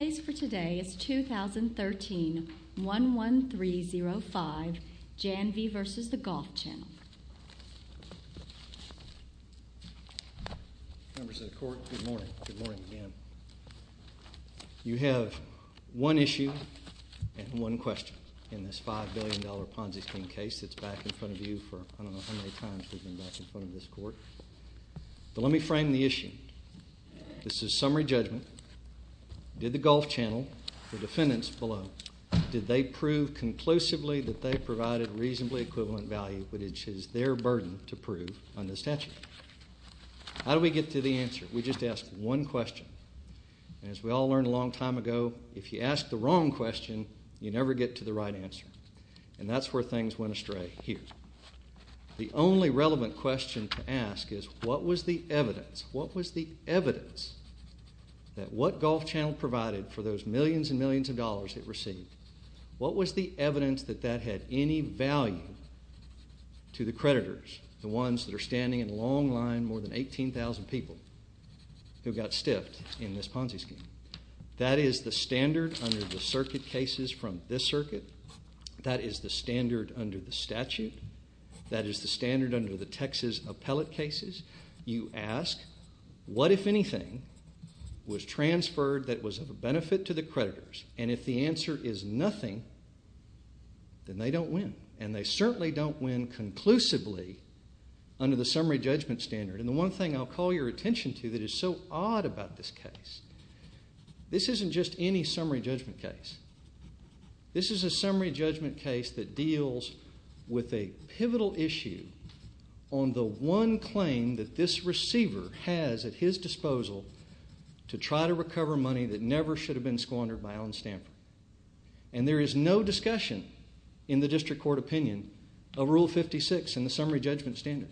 The case for today is 2013-11305, Janvey v. The Golf Channel You have one issue and one question in this $5 billion Ponzi scheme case that's back in front of you for I don't know how many times we've been back in front of this court. But let me frame the issue. This is summary judgment. Did the Golf Channel, the defendants below, did they prove conclusively that they provided reasonably equivalent value, which is their burden to prove on this statute? How do we get to the answer? We just ask one question. And as we all learned a long time ago, if you ask the wrong question, you never get to the right answer. And that's where things went astray here. The only relevant question to ask is what was the evidence? What was the evidence that what Golf Channel provided for those millions and millions of dollars it received? What was the evidence that that had any value to the creditors, the ones that are standing in long line, more than 18,000 people who got stiffed in this Ponzi scheme? That is the standard under the circuit cases from this circuit. That is the standard under the statute. That is the standard under the Texas appellate cases. You ask what, if anything, was transferred that was of benefit to the creditors. And if the answer is nothing, then they don't win. And they certainly don't win conclusively under the summary judgment standard. And the one thing I'll call your attention to that is so odd about this case, this isn't just any summary judgment case. This is a summary judgment case that deals with a pivotal issue on the one claim that this receiver has at his disposal to try to recover money that never should have been squandered by Allen Stanford. And there is no discussion in the district court opinion of Rule 56 and the summary judgment standard.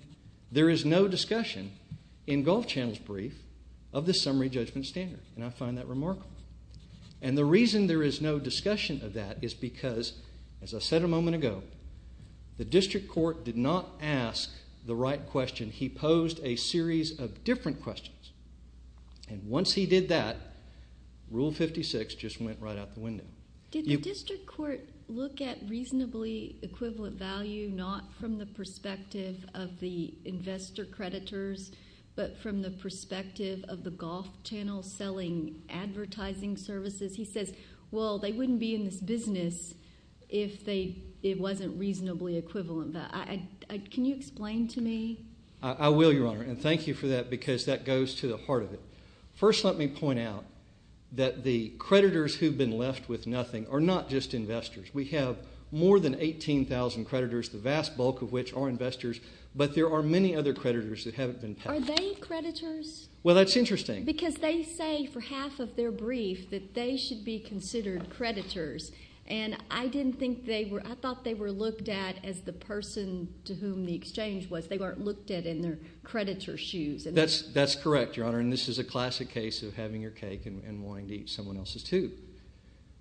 There is no discussion in Golf Channel's brief of the summary judgment standard. And I find that remarkable. And the reason there is no discussion of that is because, as I said a moment ago, the district court did not ask the right question. He posed a series of different questions. And once he did that, Rule 56 just went right out the window. Did the district court look at reasonably equivalent value not from the perspective of the investor creditors but from the perspective of the Golf Channel selling advertising services? He says, well, they wouldn't be in this business if it wasn't reasonably equivalent. Can you explain to me? I will, Your Honor, and thank you for that because that goes to the heart of it. First, let me point out that the creditors who have been left with nothing are not just investors. We have more than 18,000 creditors, the vast bulk of which are investors, but there are many other creditors that haven't been paid. Are they creditors? Well, that's interesting. Because they say for half of their brief that they should be considered creditors, and I didn't think they were. I thought they were looked at as the person to whom the exchange was. They weren't looked at in their creditor shoes. That's correct, Your Honor, and this is a classic case of having your cake and wanting to eat someone else's, too.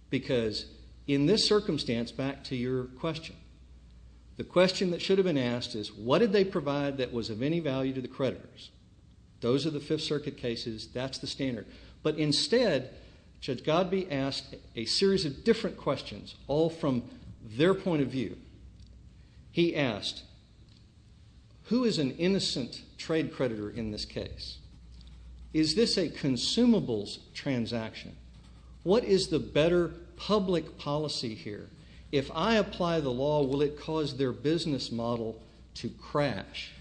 Because in this circumstance, back to your question, the question that should have been asked is what did they provide that was of any value to the creditors? Those are the Fifth Circuit cases. That's the standard. But instead, Judge Godbee asked a series of different questions, all from their point of view. He asked, who is an innocent trade creditor in this case? Is this a consumables transaction? What is the better public policy here? If I apply the law, will it cause their business model to crash?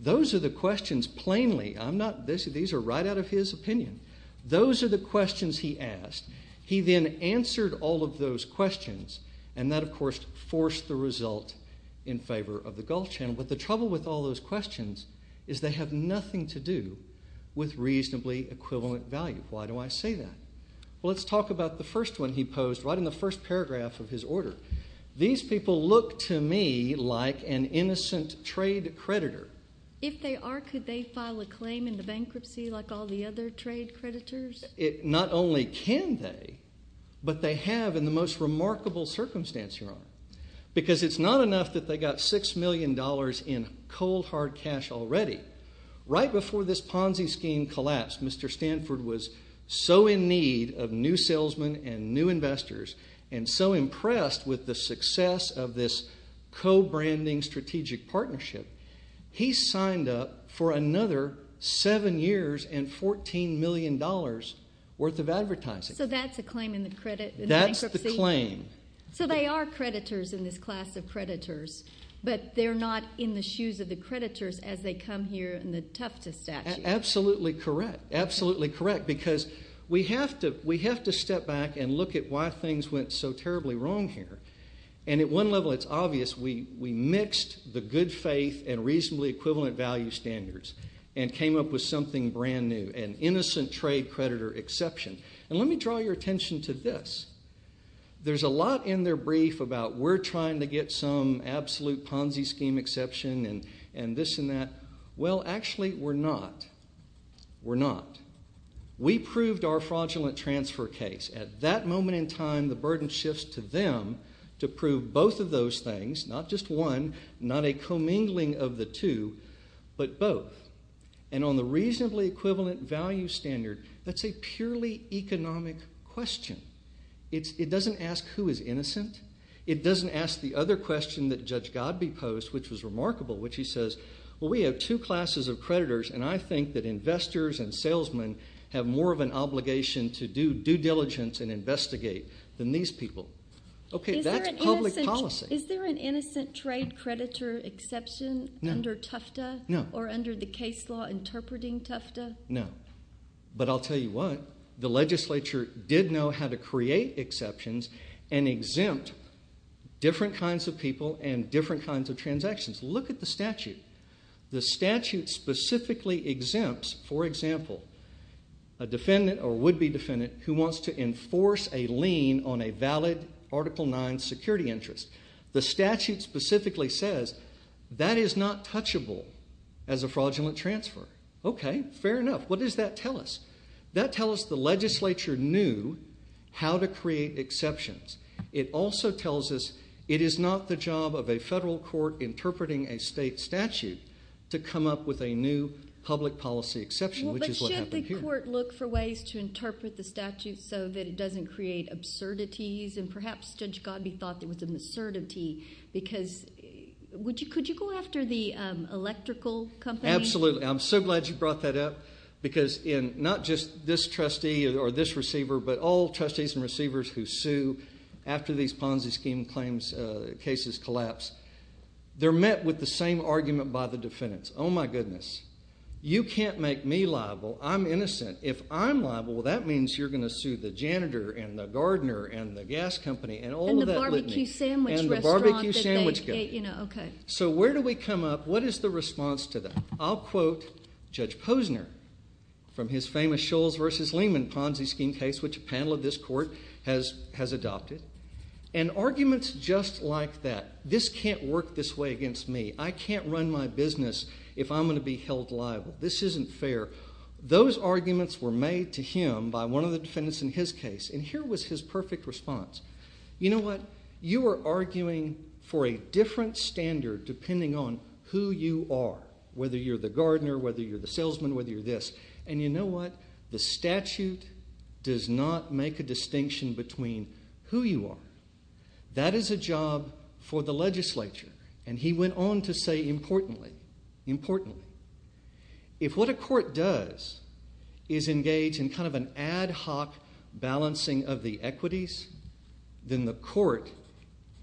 Those are the questions, plainly. These are right out of his opinion. Those are the questions he asked. He then answered all of those questions, and that, of course, forced the result in favor of the Gulf Channel. But the trouble with all those questions is they have nothing to do with reasonably equivalent value. Why do I say that? Well, let's talk about the first one he posed right in the first paragraph of his order. These people look to me like an innocent trade creditor. If they are, could they file a claim into bankruptcy like all the other trade creditors? Not only can they, but they have in the most remarkable circumstance, Your Honor. Because it's not enough that they got $6 million in cold, hard cash already. Right before this Ponzi scheme collapsed, Mr. Stanford was so in need of new salesmen and new investors and so impressed with the success of this co-branding strategic partnership, he signed up for another seven years and $14 million worth of advertising. So that's a claim in the bankruptcy? That's the claim. So they are creditors in this class of creditors, but they're not in the shoes of the creditors as they come here in the Tufta statute. Absolutely correct. Absolutely correct. Because we have to step back and look at why things went so terribly wrong here. And at one level it's obvious we mixed the good faith and reasonably equivalent value standards and came up with something brand new, an innocent trade creditor exception. And let me draw your attention to this. There's a lot in their brief about we're trying to get some absolute Ponzi scheme exception and this and that. Well, actually we're not. We're not. We proved our fraudulent transfer case. At that moment in time, the burden shifts to them to prove both of those things, not just one, not a commingling of the two, but both. And on the reasonably equivalent value standard, that's a purely economic question. It doesn't ask who is innocent. It doesn't ask the other question that Judge Godbee posed, which was remarkable, which he says, well, we have two classes of creditors, and I think that investors and salesmen have more of an obligation to do due diligence and investigate than these people. Okay, that's public policy. Is there an innocent trade creditor exception under Tufta? No. Or under the case law interpreting Tufta? No. But I'll tell you what, the legislature did know how to create exceptions and exempt different kinds of people and different kinds of transactions. Look at the statute. The statute specifically exempts, for example, a defendant or would-be defendant who wants to enforce a lien on a valid Article IX security interest. The statute specifically says that is not touchable as a fraudulent transfer. Okay, fair enough. What does that tell us? That tells us the legislature knew how to create exceptions. It also tells us it is not the job of a federal court interpreting a state statute to come up with a new public policy exception, which is what happened here. But should the court look for ways to interpret the statute so that it doesn't create absurdities, and perhaps Judge Godbee thought there was an absurdity, because could you go after the electrical company? Absolutely. I'm so glad you brought that up because not just this trustee or this receiver, but all trustees and receivers who sue after these Ponzi scheme cases collapse, they're met with the same argument by the defendants. Oh, my goodness. You can't make me liable. I'm innocent. If I'm liable, that means you're going to sue the janitor and the gardener and the gas company and all of that litany and the barbecue sandwich guy. So where do we come up? What is the response to that? I'll quote Judge Posner from his famous Scholes v. Lehman Ponzi scheme case, which a panel of this court has adopted, and arguments just like that. This can't work this way against me. I can't run my business if I'm going to be held liable. This isn't fair. Those arguments were made to him by one of the defendants in his case, and here was his perfect response. You know what? You are arguing for a different standard depending on who you are, whether you're the gardener, whether you're the salesman, whether you're this. And you know what? The statute does not make a distinction between who you are. That is a job for the legislature. And he went on to say, importantly, importantly, if what a court does is engage in kind of an ad hoc balancing of the equities, then the court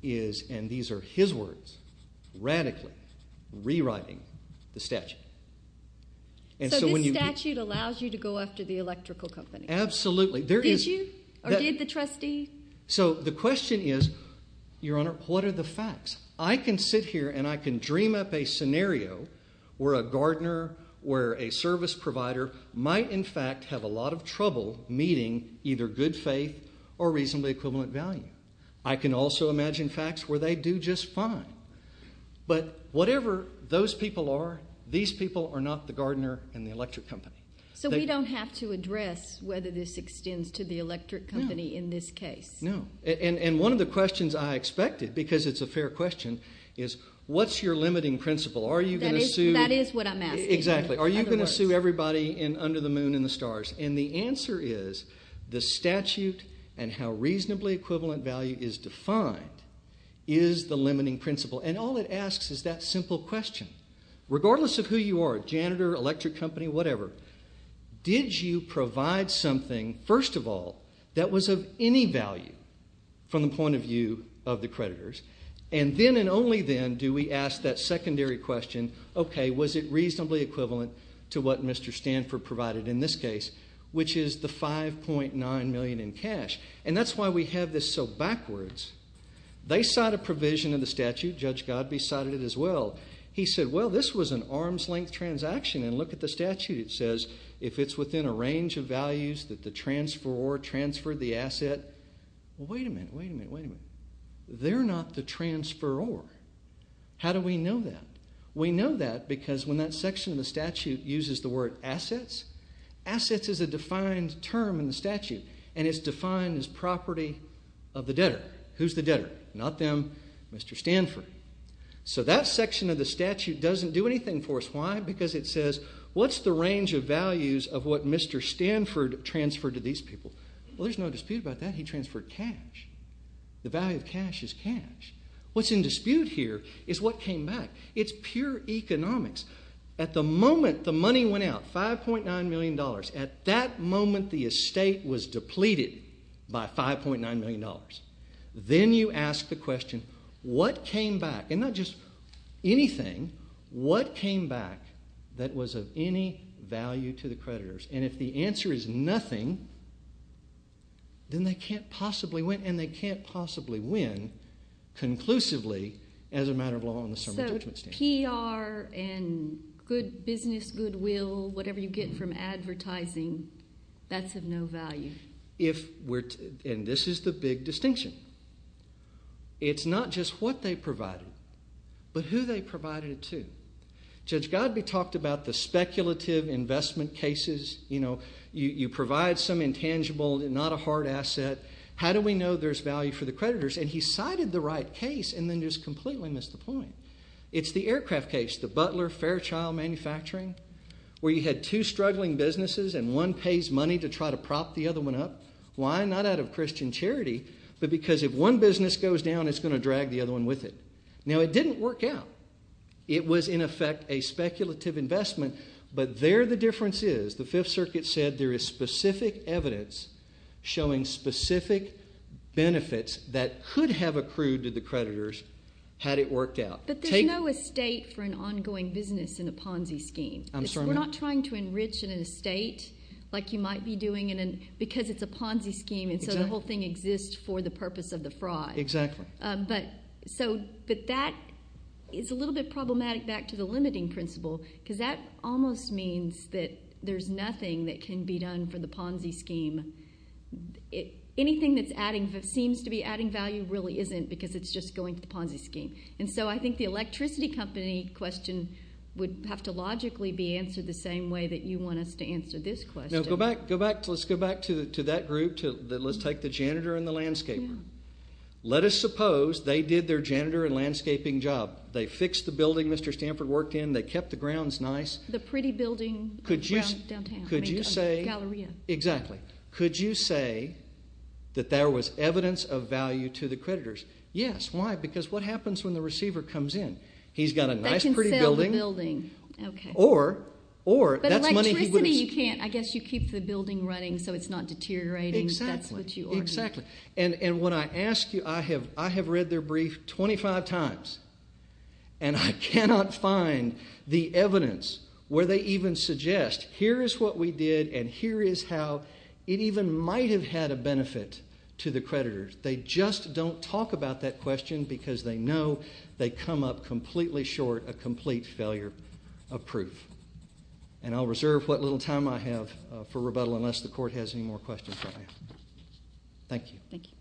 is, and these are his words, radically rewriting the statute. So this statute allows you to go after the electrical company? Absolutely. Did you? Or did the trustee? So the question is, Your Honor, what are the facts? I can sit here and I can dream up a scenario where a gardener, where a service provider, might in fact have a lot of trouble meeting either good faith or reasonably equivalent value. I can also imagine facts where they do just fine. But whatever those people are, these people are not the gardener and the electric company. So we don't have to address whether this extends to the electric company in this case? No. And one of the questions I expected, because it's a fair question, is what's your limiting principle? Are you going to sue? That is what I'm asking. Exactly. Are you going to sue everybody under the moon and the stars? And the answer is the statute and how reasonably equivalent value is defined is the limiting principle. And all it asks is that simple question. Regardless of who you are, janitor, electric company, whatever, did you provide something, first of all, that was of any value from the point of view of the creditors? And then and only then do we ask that secondary question, okay, was it reasonably equivalent to what Mr. Stanford provided in this case, which is the $5.9 million in cash? And that's why we have this so backwards. They cite a provision in the statute. Judge Godbee cited it as well. He said, well, this was an arm's-length transaction, and look at the statute. It says if it's within a range of values that the transferor transferred the asset. Well, wait a minute, wait a minute, wait a minute. They're not the transferor. How do we know that? We know that because when that section of the statute uses the word assets, assets is a defined term in the statute, and it's defined as property of the debtor. Who's the debtor? Not them, Mr. Stanford. So that section of the statute doesn't do anything for us. Why? Because it says what's the range of values of what Mr. Stanford transferred to these people? Well, there's no dispute about that. He transferred cash. The value of cash is cash. What's in dispute here is what came back. It's pure economics. At the moment the money went out, $5.9 million, at that moment the estate was depleted by $5.9 million. Then you ask the question, what came back? And not just anything. What came back that was of any value to the creditors? And if the answer is nothing, then they can't possibly win, and they can't possibly win conclusively as a matter of law on the sermon judgment stand. So PR and good business, goodwill, whatever you get from advertising, that's of no value? And this is the big distinction. It's not just what they provided, but who they provided it to. Judge Godby talked about the speculative investment cases. You provide some intangible, not a hard asset. How do we know there's value for the creditors? And he cited the right case and then just completely missed the point. It's the aircraft case, the Butler Fairchild Manufacturing, where you had two struggling businesses, and one pays money to try to prop the other one up. Why? Not out of Christian charity, but because if one business goes down, it's going to drag the other one with it. Now, it didn't work out. It was, in effect, a speculative investment. But there the difference is, the Fifth Circuit said there is specific evidence showing specific benefits that could have accrued to the creditors had it worked out. But there's no estate for an ongoing business in a Ponzi scheme. We're not trying to enrich an estate like you might be doing, because it's a Ponzi scheme, and so the whole thing exists for the purpose of the fraud. Exactly. But that is a little bit problematic back to the limiting principle, because that almost means that there's nothing that can be done for the Ponzi scheme. Anything that seems to be adding value really isn't, because it's just going to the Ponzi scheme. And so I think the electricity company question would have to logically be answered the same way that you want us to answer this question. Now, go back. Let's go back to that group. Let's take the janitor and the landscaper. Let us suppose they did their janitor and landscaping job. They fixed the building Mr. Stanford worked in. They kept the grounds nice. The pretty building downtown. Could you say. Galleria. Exactly. Could you say that there was evidence of value to the creditors? Yes. Why? Because what happens when the receiver comes in? He's got a nice pretty building. That can sell the building. Okay. Or. But electricity you can't. I guess you keep the building running so it's not deteriorating. Exactly. That's what you argue. Exactly. And when I ask you, I have read their brief 25 times, and I cannot find the evidence where they even suggest here is what we did, and here is how. It even might have had a benefit to the creditors. They just don't talk about that question because they know they come up completely short a complete failure of proof. And I'll reserve what little time I have for rebuttal unless the court has any more questions for me. Thank you. Thank you.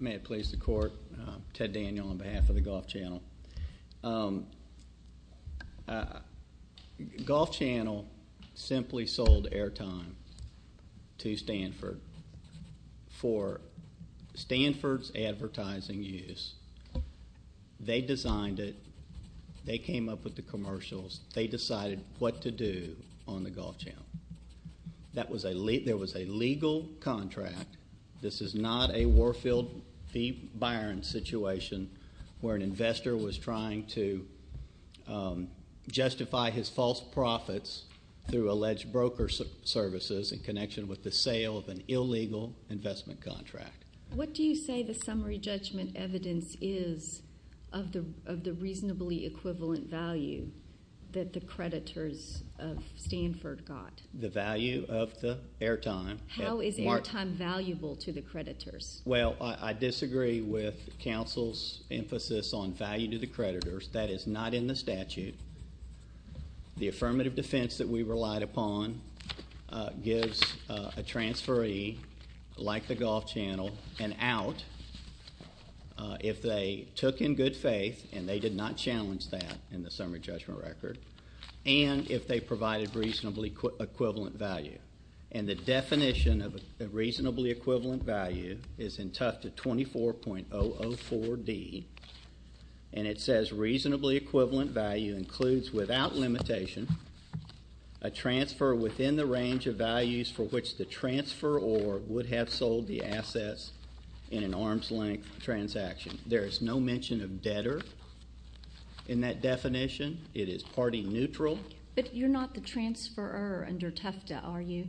May it please the court. Ted Daniel on behalf of the Golf Channel. Golf Channel simply sold airtime to Stanford for Stanford's advertising use. They designed it. They came up with the commercials. They decided what to do on the Golf Channel. That was a legal contract. This is not a Warfield v. Byron situation where an investor was trying to justify his false profits through alleged broker services in connection with the sale of an illegal investment contract. What do you say the summary judgment evidence is of the reasonably equivalent value that the creditors of Stanford got? The value of the airtime. How is airtime valuable to the creditors? Well, I disagree with counsel's emphasis on value to the creditors. That is not in the statute. The affirmative defense that we relied upon gives a transferee like the Golf Channel an out if they took in good faith, and they did not challenge that in the summary judgment record, and if they provided reasonably equivalent value. And the definition of a reasonably equivalent value is in Tufta 24.004D, and it says reasonably equivalent value includes without limitation a transfer within the range of values for which the transferor would have sold the assets in an arm's length transaction. There is no mention of debtor in that definition. It is party neutral. But you're not the transferor under Tufta, are you?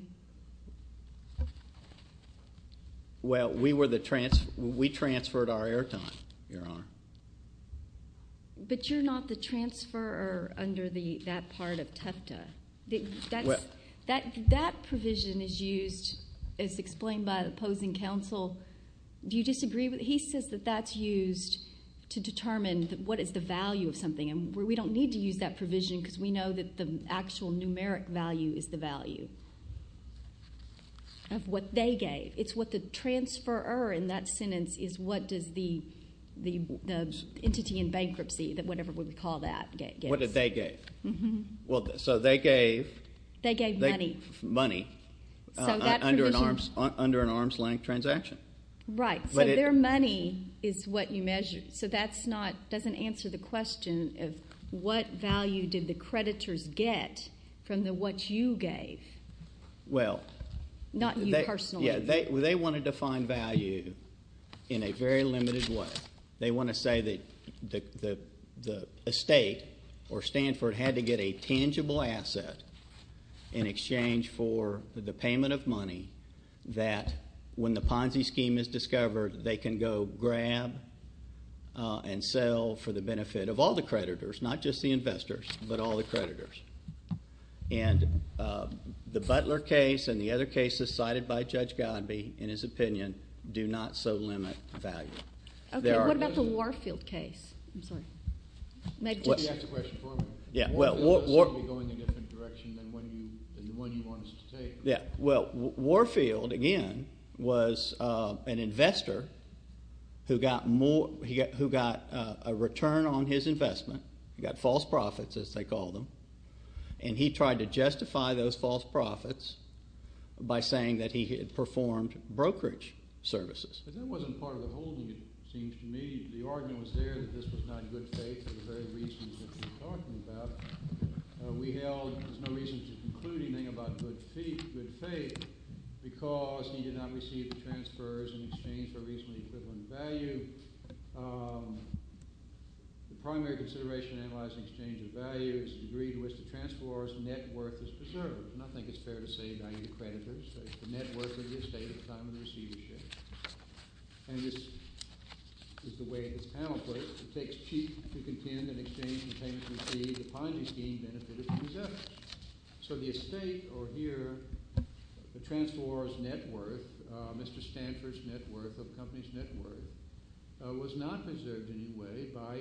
Well, we were the transferor. We transferred our airtime, Your Honor. But you're not the transferor under that part of Tufta. That provision is used as explained by the opposing counsel. Do you disagree? He says that that's used to determine what is the value of something, and we don't need to use that provision because we know that the actual numeric value is the value of what they gave. It's what the transferor in that sentence is what does the entity in bankruptcy, whatever we call that, gets. What did they give? Mm-hmm. So they gave money under an arm's length transaction. Right. So their money is what you measure. So that's not doesn't answer the question of what value did the creditors get from the what you gave? Well. Not you personally. Yeah. They wanted to find value in a very limited way. They want to say that the estate or Stanford had to get a tangible asset in exchange for the payment of money that when the Ponzi scheme is discovered, they can go grab and sell for the benefit of all the creditors, not just the investors, but all the creditors. And the Butler case and the other cases cited by Judge Godbee, in his opinion, do not so limit value. Okay. What about the Warfield case? I'm sorry. You asked the question for me. Yeah. Warfield is going to be going in a different direction than the one you wanted us to take. Yeah. Well, Warfield, again, was an investor who got a return on his investment. He got false profits, as they called them. And he tried to justify those false profits by saying that he had performed brokerage services. But that wasn't part of the holding, it seems to me. The argument was there that this was not good faith at the very reasons that you're talking about. We held there's no reason to conclude anything about good faith because he did not receive the transfers in exchange for reasonably equivalent value. The primary consideration in analyzing exchange of value is the degree to which the transferor's net worth is preserved. And I think it's fair to say value creditors, the net worth of the estate at the time of the receivership. And this is the way this panel put it. If it takes cheap to contend in exchange for payment receipt, the Ponzi scheme benefits the receivers. So the estate, or here, the transferor's net worth, Mr. Stanford's net worth, the company's net worth, was not preserved in any way by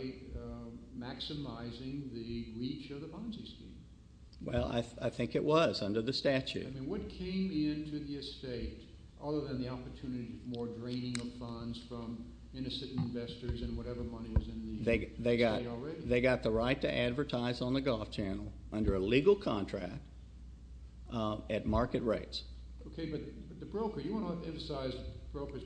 maximizing the reach of the Ponzi scheme. Well, I think it was under the statute. I mean, what came into the estate, other than the opportunity of more draining of funds from innocent investors and whatever money was in the estate already? They got the right to advertise on the Golf Channel under a legal contract at market rates. OK, but the broker, you want to emphasize the broker's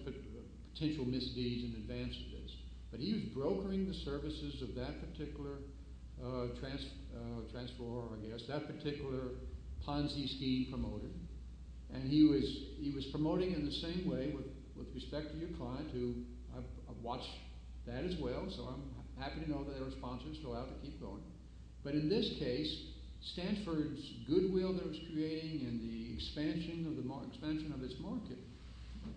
potential misdeeds in advance of this. But he was brokering the services of that particular transferor, I guess, that particular Ponzi scheme promoter. And he was promoting in the same way with respect to your client, who I've watched that as well, so I'm happy to know that there are sponsors still out to keep going. But in this case, Stanford's goodwill that it was creating and the expansion of its market,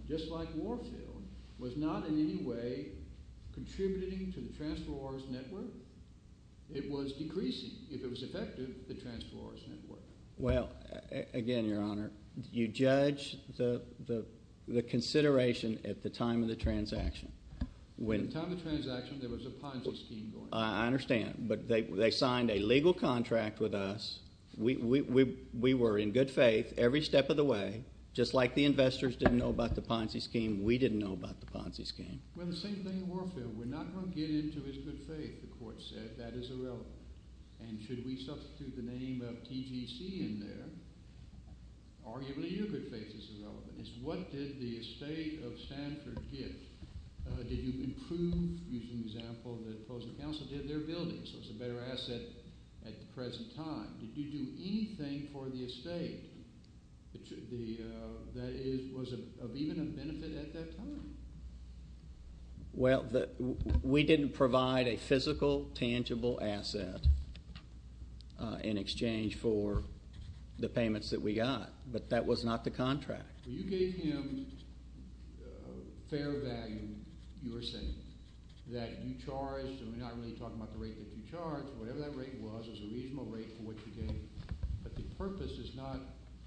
just like Warfield, was not in any way contributing to the transferor's net worth. It was decreasing, if it was effective, the transferor's net worth. Well, again, Your Honor, you judge the consideration at the time of the transaction. At the time of the transaction, there was a Ponzi scheme going on. I understand. But they signed a legal contract with us. We were in good faith every step of the way. Just like the investors didn't know about the Ponzi scheme, we didn't know about the Ponzi scheme. Well, the same thing in Warfield. We're not going to get into his good faith, the court said. That is irrelevant. And should we substitute the name of TGC in there? Arguably, your good faith is irrelevant. It's what did the estate of Stanford get? Did you improve, using the example that opposing counsel did, their buildings? So it's a better asset at the present time. Did you do anything for the estate that was of even a benefit at that time? Well, we didn't provide a physical, tangible asset in exchange for the payments that we got. But that was not the contract. Well, you gave him fair value, you were saying, that you charged. And we're not really talking about the rate that you charged. Whatever that rate was, it was a reasonable rate for what you gave. But the purpose is not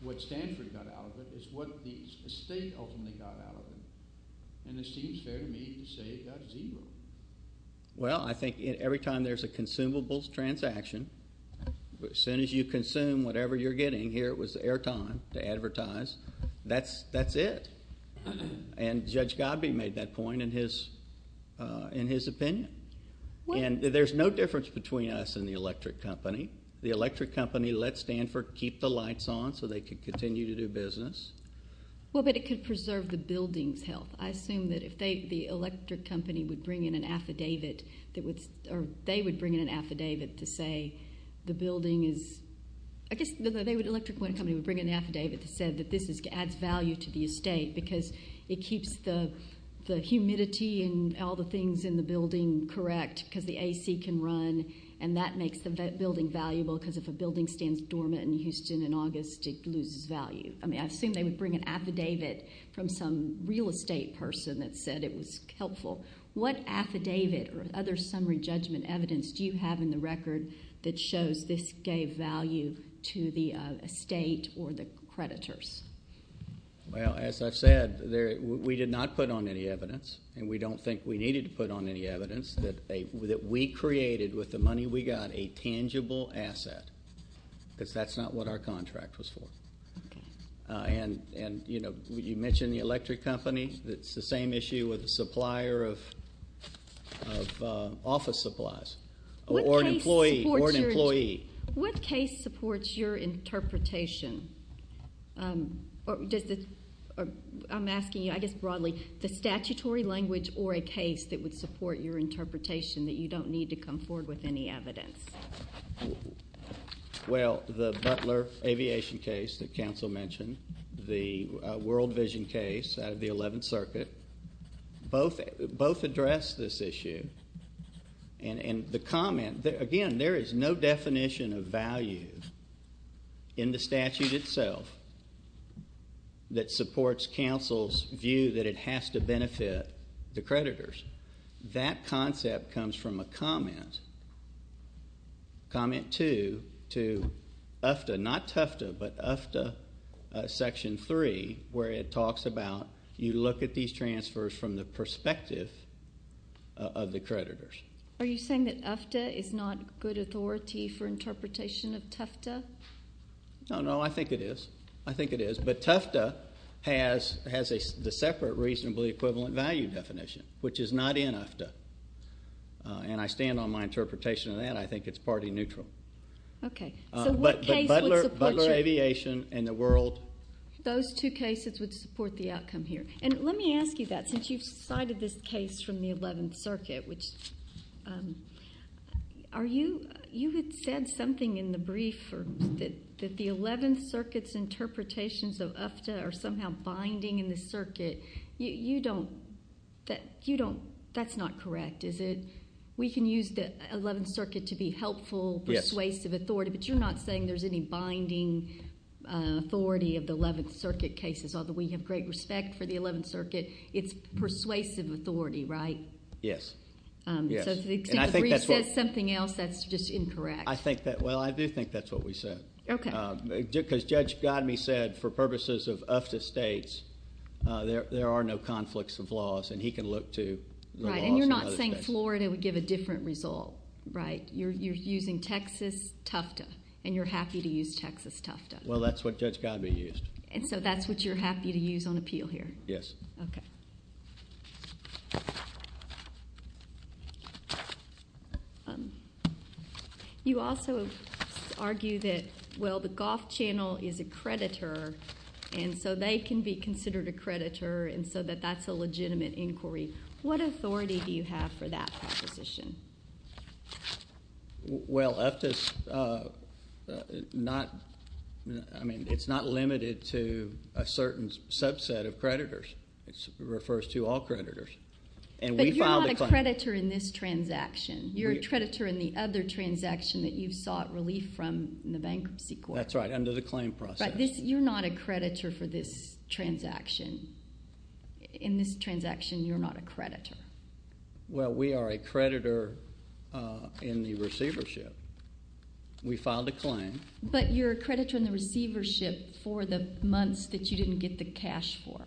what Stanford got out of it. It's what the estate ultimately got out of it. And it seems fair to me to say it got zero. Well, I think every time there's a consumables transaction, as soon as you consume whatever you're getting here, it was airtime to advertise. That's it. And Judge Godbee made that point in his opinion. And there's no difference between us and the electric company. The electric company let Stanford keep the lights on so they could continue to do business. I assume that if the electric company would bring in an affidavit, or they would bring in an affidavit to say the building is ‑‑ I guess the electric company would bring in an affidavit to say that this adds value to the estate, because it keeps the humidity and all the things in the building correct, because the A.C. can run. And that makes the building valuable, because if a building stands dormant in Houston in August, it loses value. I mean, I assume they would bring an affidavit from some real estate person that said it was helpful. What affidavit or other summary judgment evidence do you have in the record that shows this gave value to the estate or the creditors? Well, as I've said, we did not put on any evidence, and we don't think we needed to put on any evidence that we created with the money we got a tangible asset, because that's not what our contract was for. Okay. And, you know, you mentioned the electric company. It's the same issue with the supplier of office supplies or an employee. What case supports your interpretation? I'm asking you, I guess broadly, the statutory language or a case that would support your interpretation, that you don't need to come forward with any evidence. Well, the Butler Aviation case that counsel mentioned, the World Vision case out of the Eleventh Circuit, both address this issue. And the comment, again, there is no definition of value in the statute itself that supports counsel's view that it has to benefit the creditors. That concept comes from a comment, comment two, to UFTA, not Tufta, but UFTA section three, where it talks about you look at these transfers from the perspective of the creditors. Are you saying that UFTA is not good authority for interpretation of Tufta? No, no, I think it is. I think it is. But Tufta has the separate reasonably equivalent value definition, which is not in UFTA. And I stand on my interpretation of that. I think it's party neutral. Okay. So what case would support you? Butler Aviation and the World. Those two cases would support the outcome here. And let me ask you that, since you've cited this case from the Eleventh Circuit, which are you, you had said something in the brief that the Eleventh Circuit's interpretations of UFTA are somehow binding in the circuit. You don't, that's not correct, is it? We can use the Eleventh Circuit to be helpful, persuasive authority, but you're not saying there's any binding authority of the Eleventh Circuit cases, although we have great respect for the Eleventh Circuit. It's persuasive authority, right? Yes. So if the brief says something else, that's just incorrect. I think that, well, I do think that's what we said. Okay. Because Judge Godme said for purposes of UFTA states, there are no conflicts of laws, and he can look to the laws in other states. Right, and you're not saying Florida would give a different result, right? You're using Texas Tufta, and you're happy to use Texas Tufta. Well, that's what Judge Godme used. And so that's what you're happy to use on appeal here? Yes. Okay. You also argue that, well, the Goff Channel is a creditor, and so they can be considered a creditor, and so that that's a legitimate inquiry. What authority do you have for that proposition? Well, UFTA's not, I mean, it's not limited to a certain subset of creditors. It refers to all creditors. But you're not a creditor in this transaction. You're a creditor in the other transaction that you sought relief from in the bankruptcy court. That's right, under the claim process. But you're not a creditor for this transaction. In this transaction, you're not a creditor. Well, we are a creditor in the receivership. We filed a claim. But you're a creditor in the receivership for the months that you didn't get the cash for.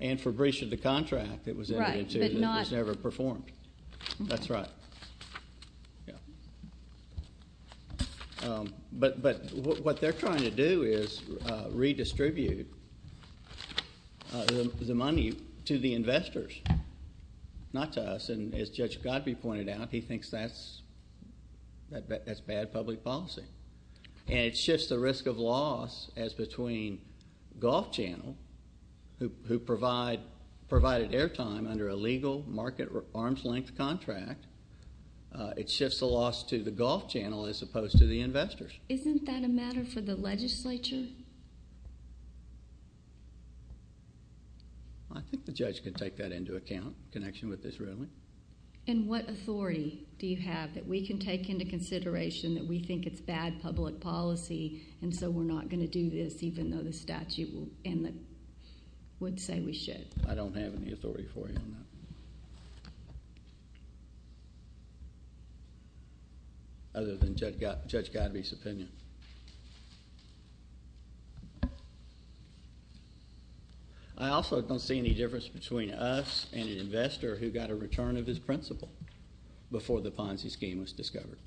And for breach of the contract that was entered into that was never performed. That's right. But what they're trying to do is redistribute the money to the investors, not to us. And as Judge Godbee pointed out, he thinks that's bad public policy. And it shifts the risk of loss as between Golf Channel, who provided airtime under a legal market arm's length contract. It shifts the loss to the Golf Channel as opposed to the investors. Isn't that a matter for the legislature? I think the judge can take that into account, connection with this ruling. And what authority do you have that we can take into consideration that we think it's bad public policy, and so we're not going to do this even though the statute would say we should? I don't have any authority for you on that. I also don't see any difference between us and an investor who got a return of his principal before the Ponzi scheme was discovered.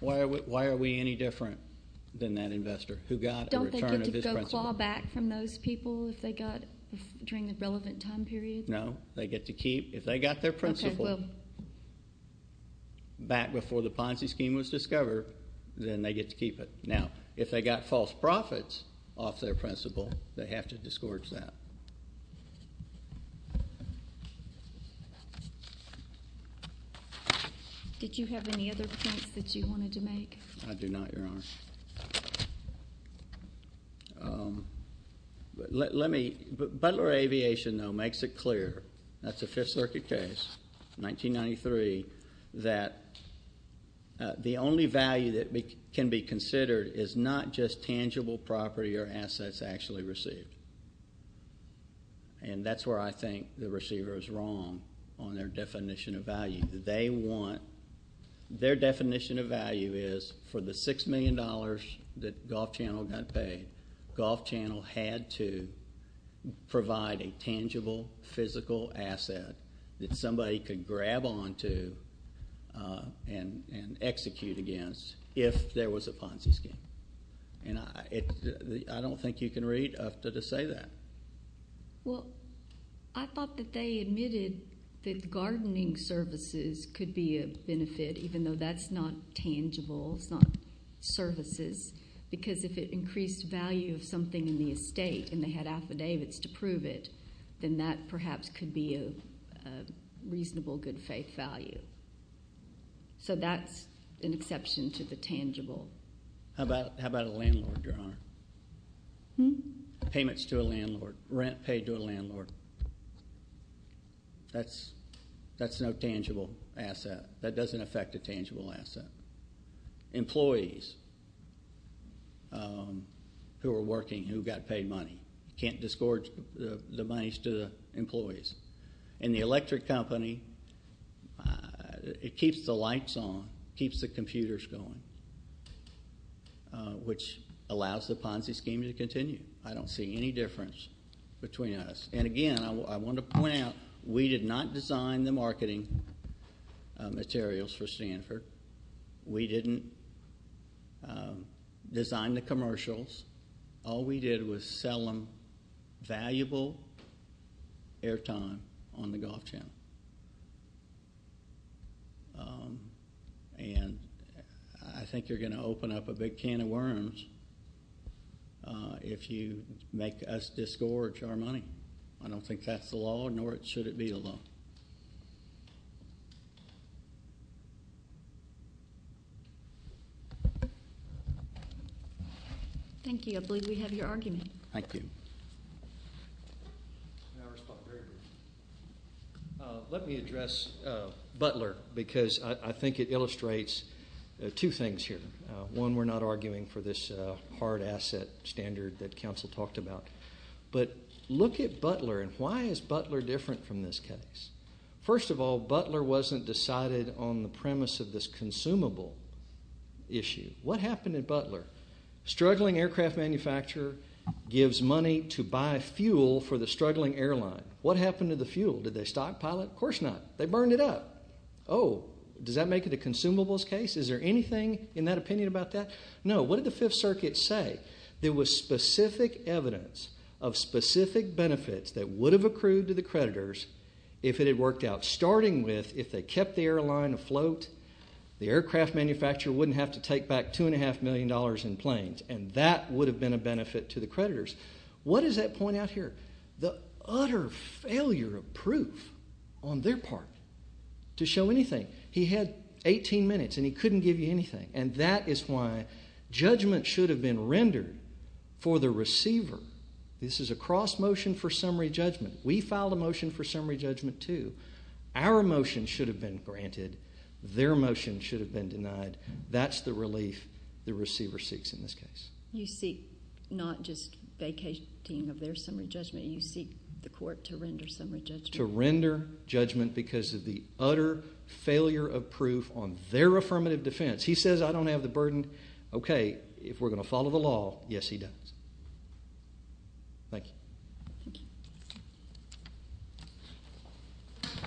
Why are we any different than that investor who got a return of his principal? Don't they get to go claw back from those people if they got during the relevant time period? No. They get to keep, if they got their principal. Back before the Ponzi scheme was discovered, then they get to keep it. Now, if they got false profits off their principal, they have to disgorge that. Did you have any other points that you wanted to make? I do not, Your Honor. Let me, but Butler Aviation, though, makes it clear, that's a Fifth Circuit case, 1993, that the only value that can be considered is not just tangible property or assets actually received. And that's where I think the receiver is wrong on their definition of value. Their definition of value is for the $6 million that Gulf Channel got paid, Gulf Channel had to provide a tangible, physical asset that somebody could grab onto and execute against if there was a Ponzi scheme. And I don't think you can read UFTA to say that. Well, I thought that they admitted that gardening services could be a benefit, even though that's not tangible. It's not services. Because if it increased value of something in the estate and they had affidavits to prove it, then that perhaps could be a reasonable good faith value. So that's an exception to the tangible. How about a landlord, Your Honor? Payments to a landlord. Rent paid to a landlord. That's no tangible asset. That doesn't affect a tangible asset. Employees who are working who got paid money. And the electric company, it keeps the lights on, keeps the computers going, which allows the Ponzi scheme to continue. I don't see any difference between us. And again, I want to point out, we did not design the marketing materials for Stanford. We didn't design the commercials. All we did was sell them valuable airtime on the golf channel. And I think you're going to open up a big can of worms if you make us disgorge our money. I don't think that's the law, nor should it be the law. Thank you. I believe we have your argument. Thank you. Let me address Butler because I think it illustrates two things here. One, we're not arguing for this hard asset standard that counsel talked about. But look at Butler and why is Butler different from this case? First of all, Butler wasn't decided on the premise of this consumable issue. What happened at Butler? Struggling aircraft manufacturer gives money to buy fuel for the struggling airline. What happened to the fuel? Did they stockpile it? Of course not. They burned it up. Oh, does that make it a consumables case? Is there anything in that opinion about that? No. What did the Fifth Circuit say? There was specific evidence of specific benefits that would have accrued to the creditors if it had worked out. Starting with, if they kept the airline afloat, the aircraft manufacturer wouldn't have to take back $2.5 million in planes. And that would have been a benefit to the creditors. What is that point out here? The utter failure of proof on their part to show anything. He had 18 minutes and he couldn't give you anything. And that is why judgment should have been rendered for the receiver. This is a cross motion for summary judgment. We filed a motion for summary judgment, too. Our motion should have been granted. Their motion should have been denied. That's the relief the receiver seeks in this case. You seek not just vacating of their summary judgment. You seek the court to render summary judgment. To render judgment because of the utter failure of proof on their affirmative defense. He says, I don't have the burden. Okay, if we're going to follow the law, yes, he does. Thank you. Thank you.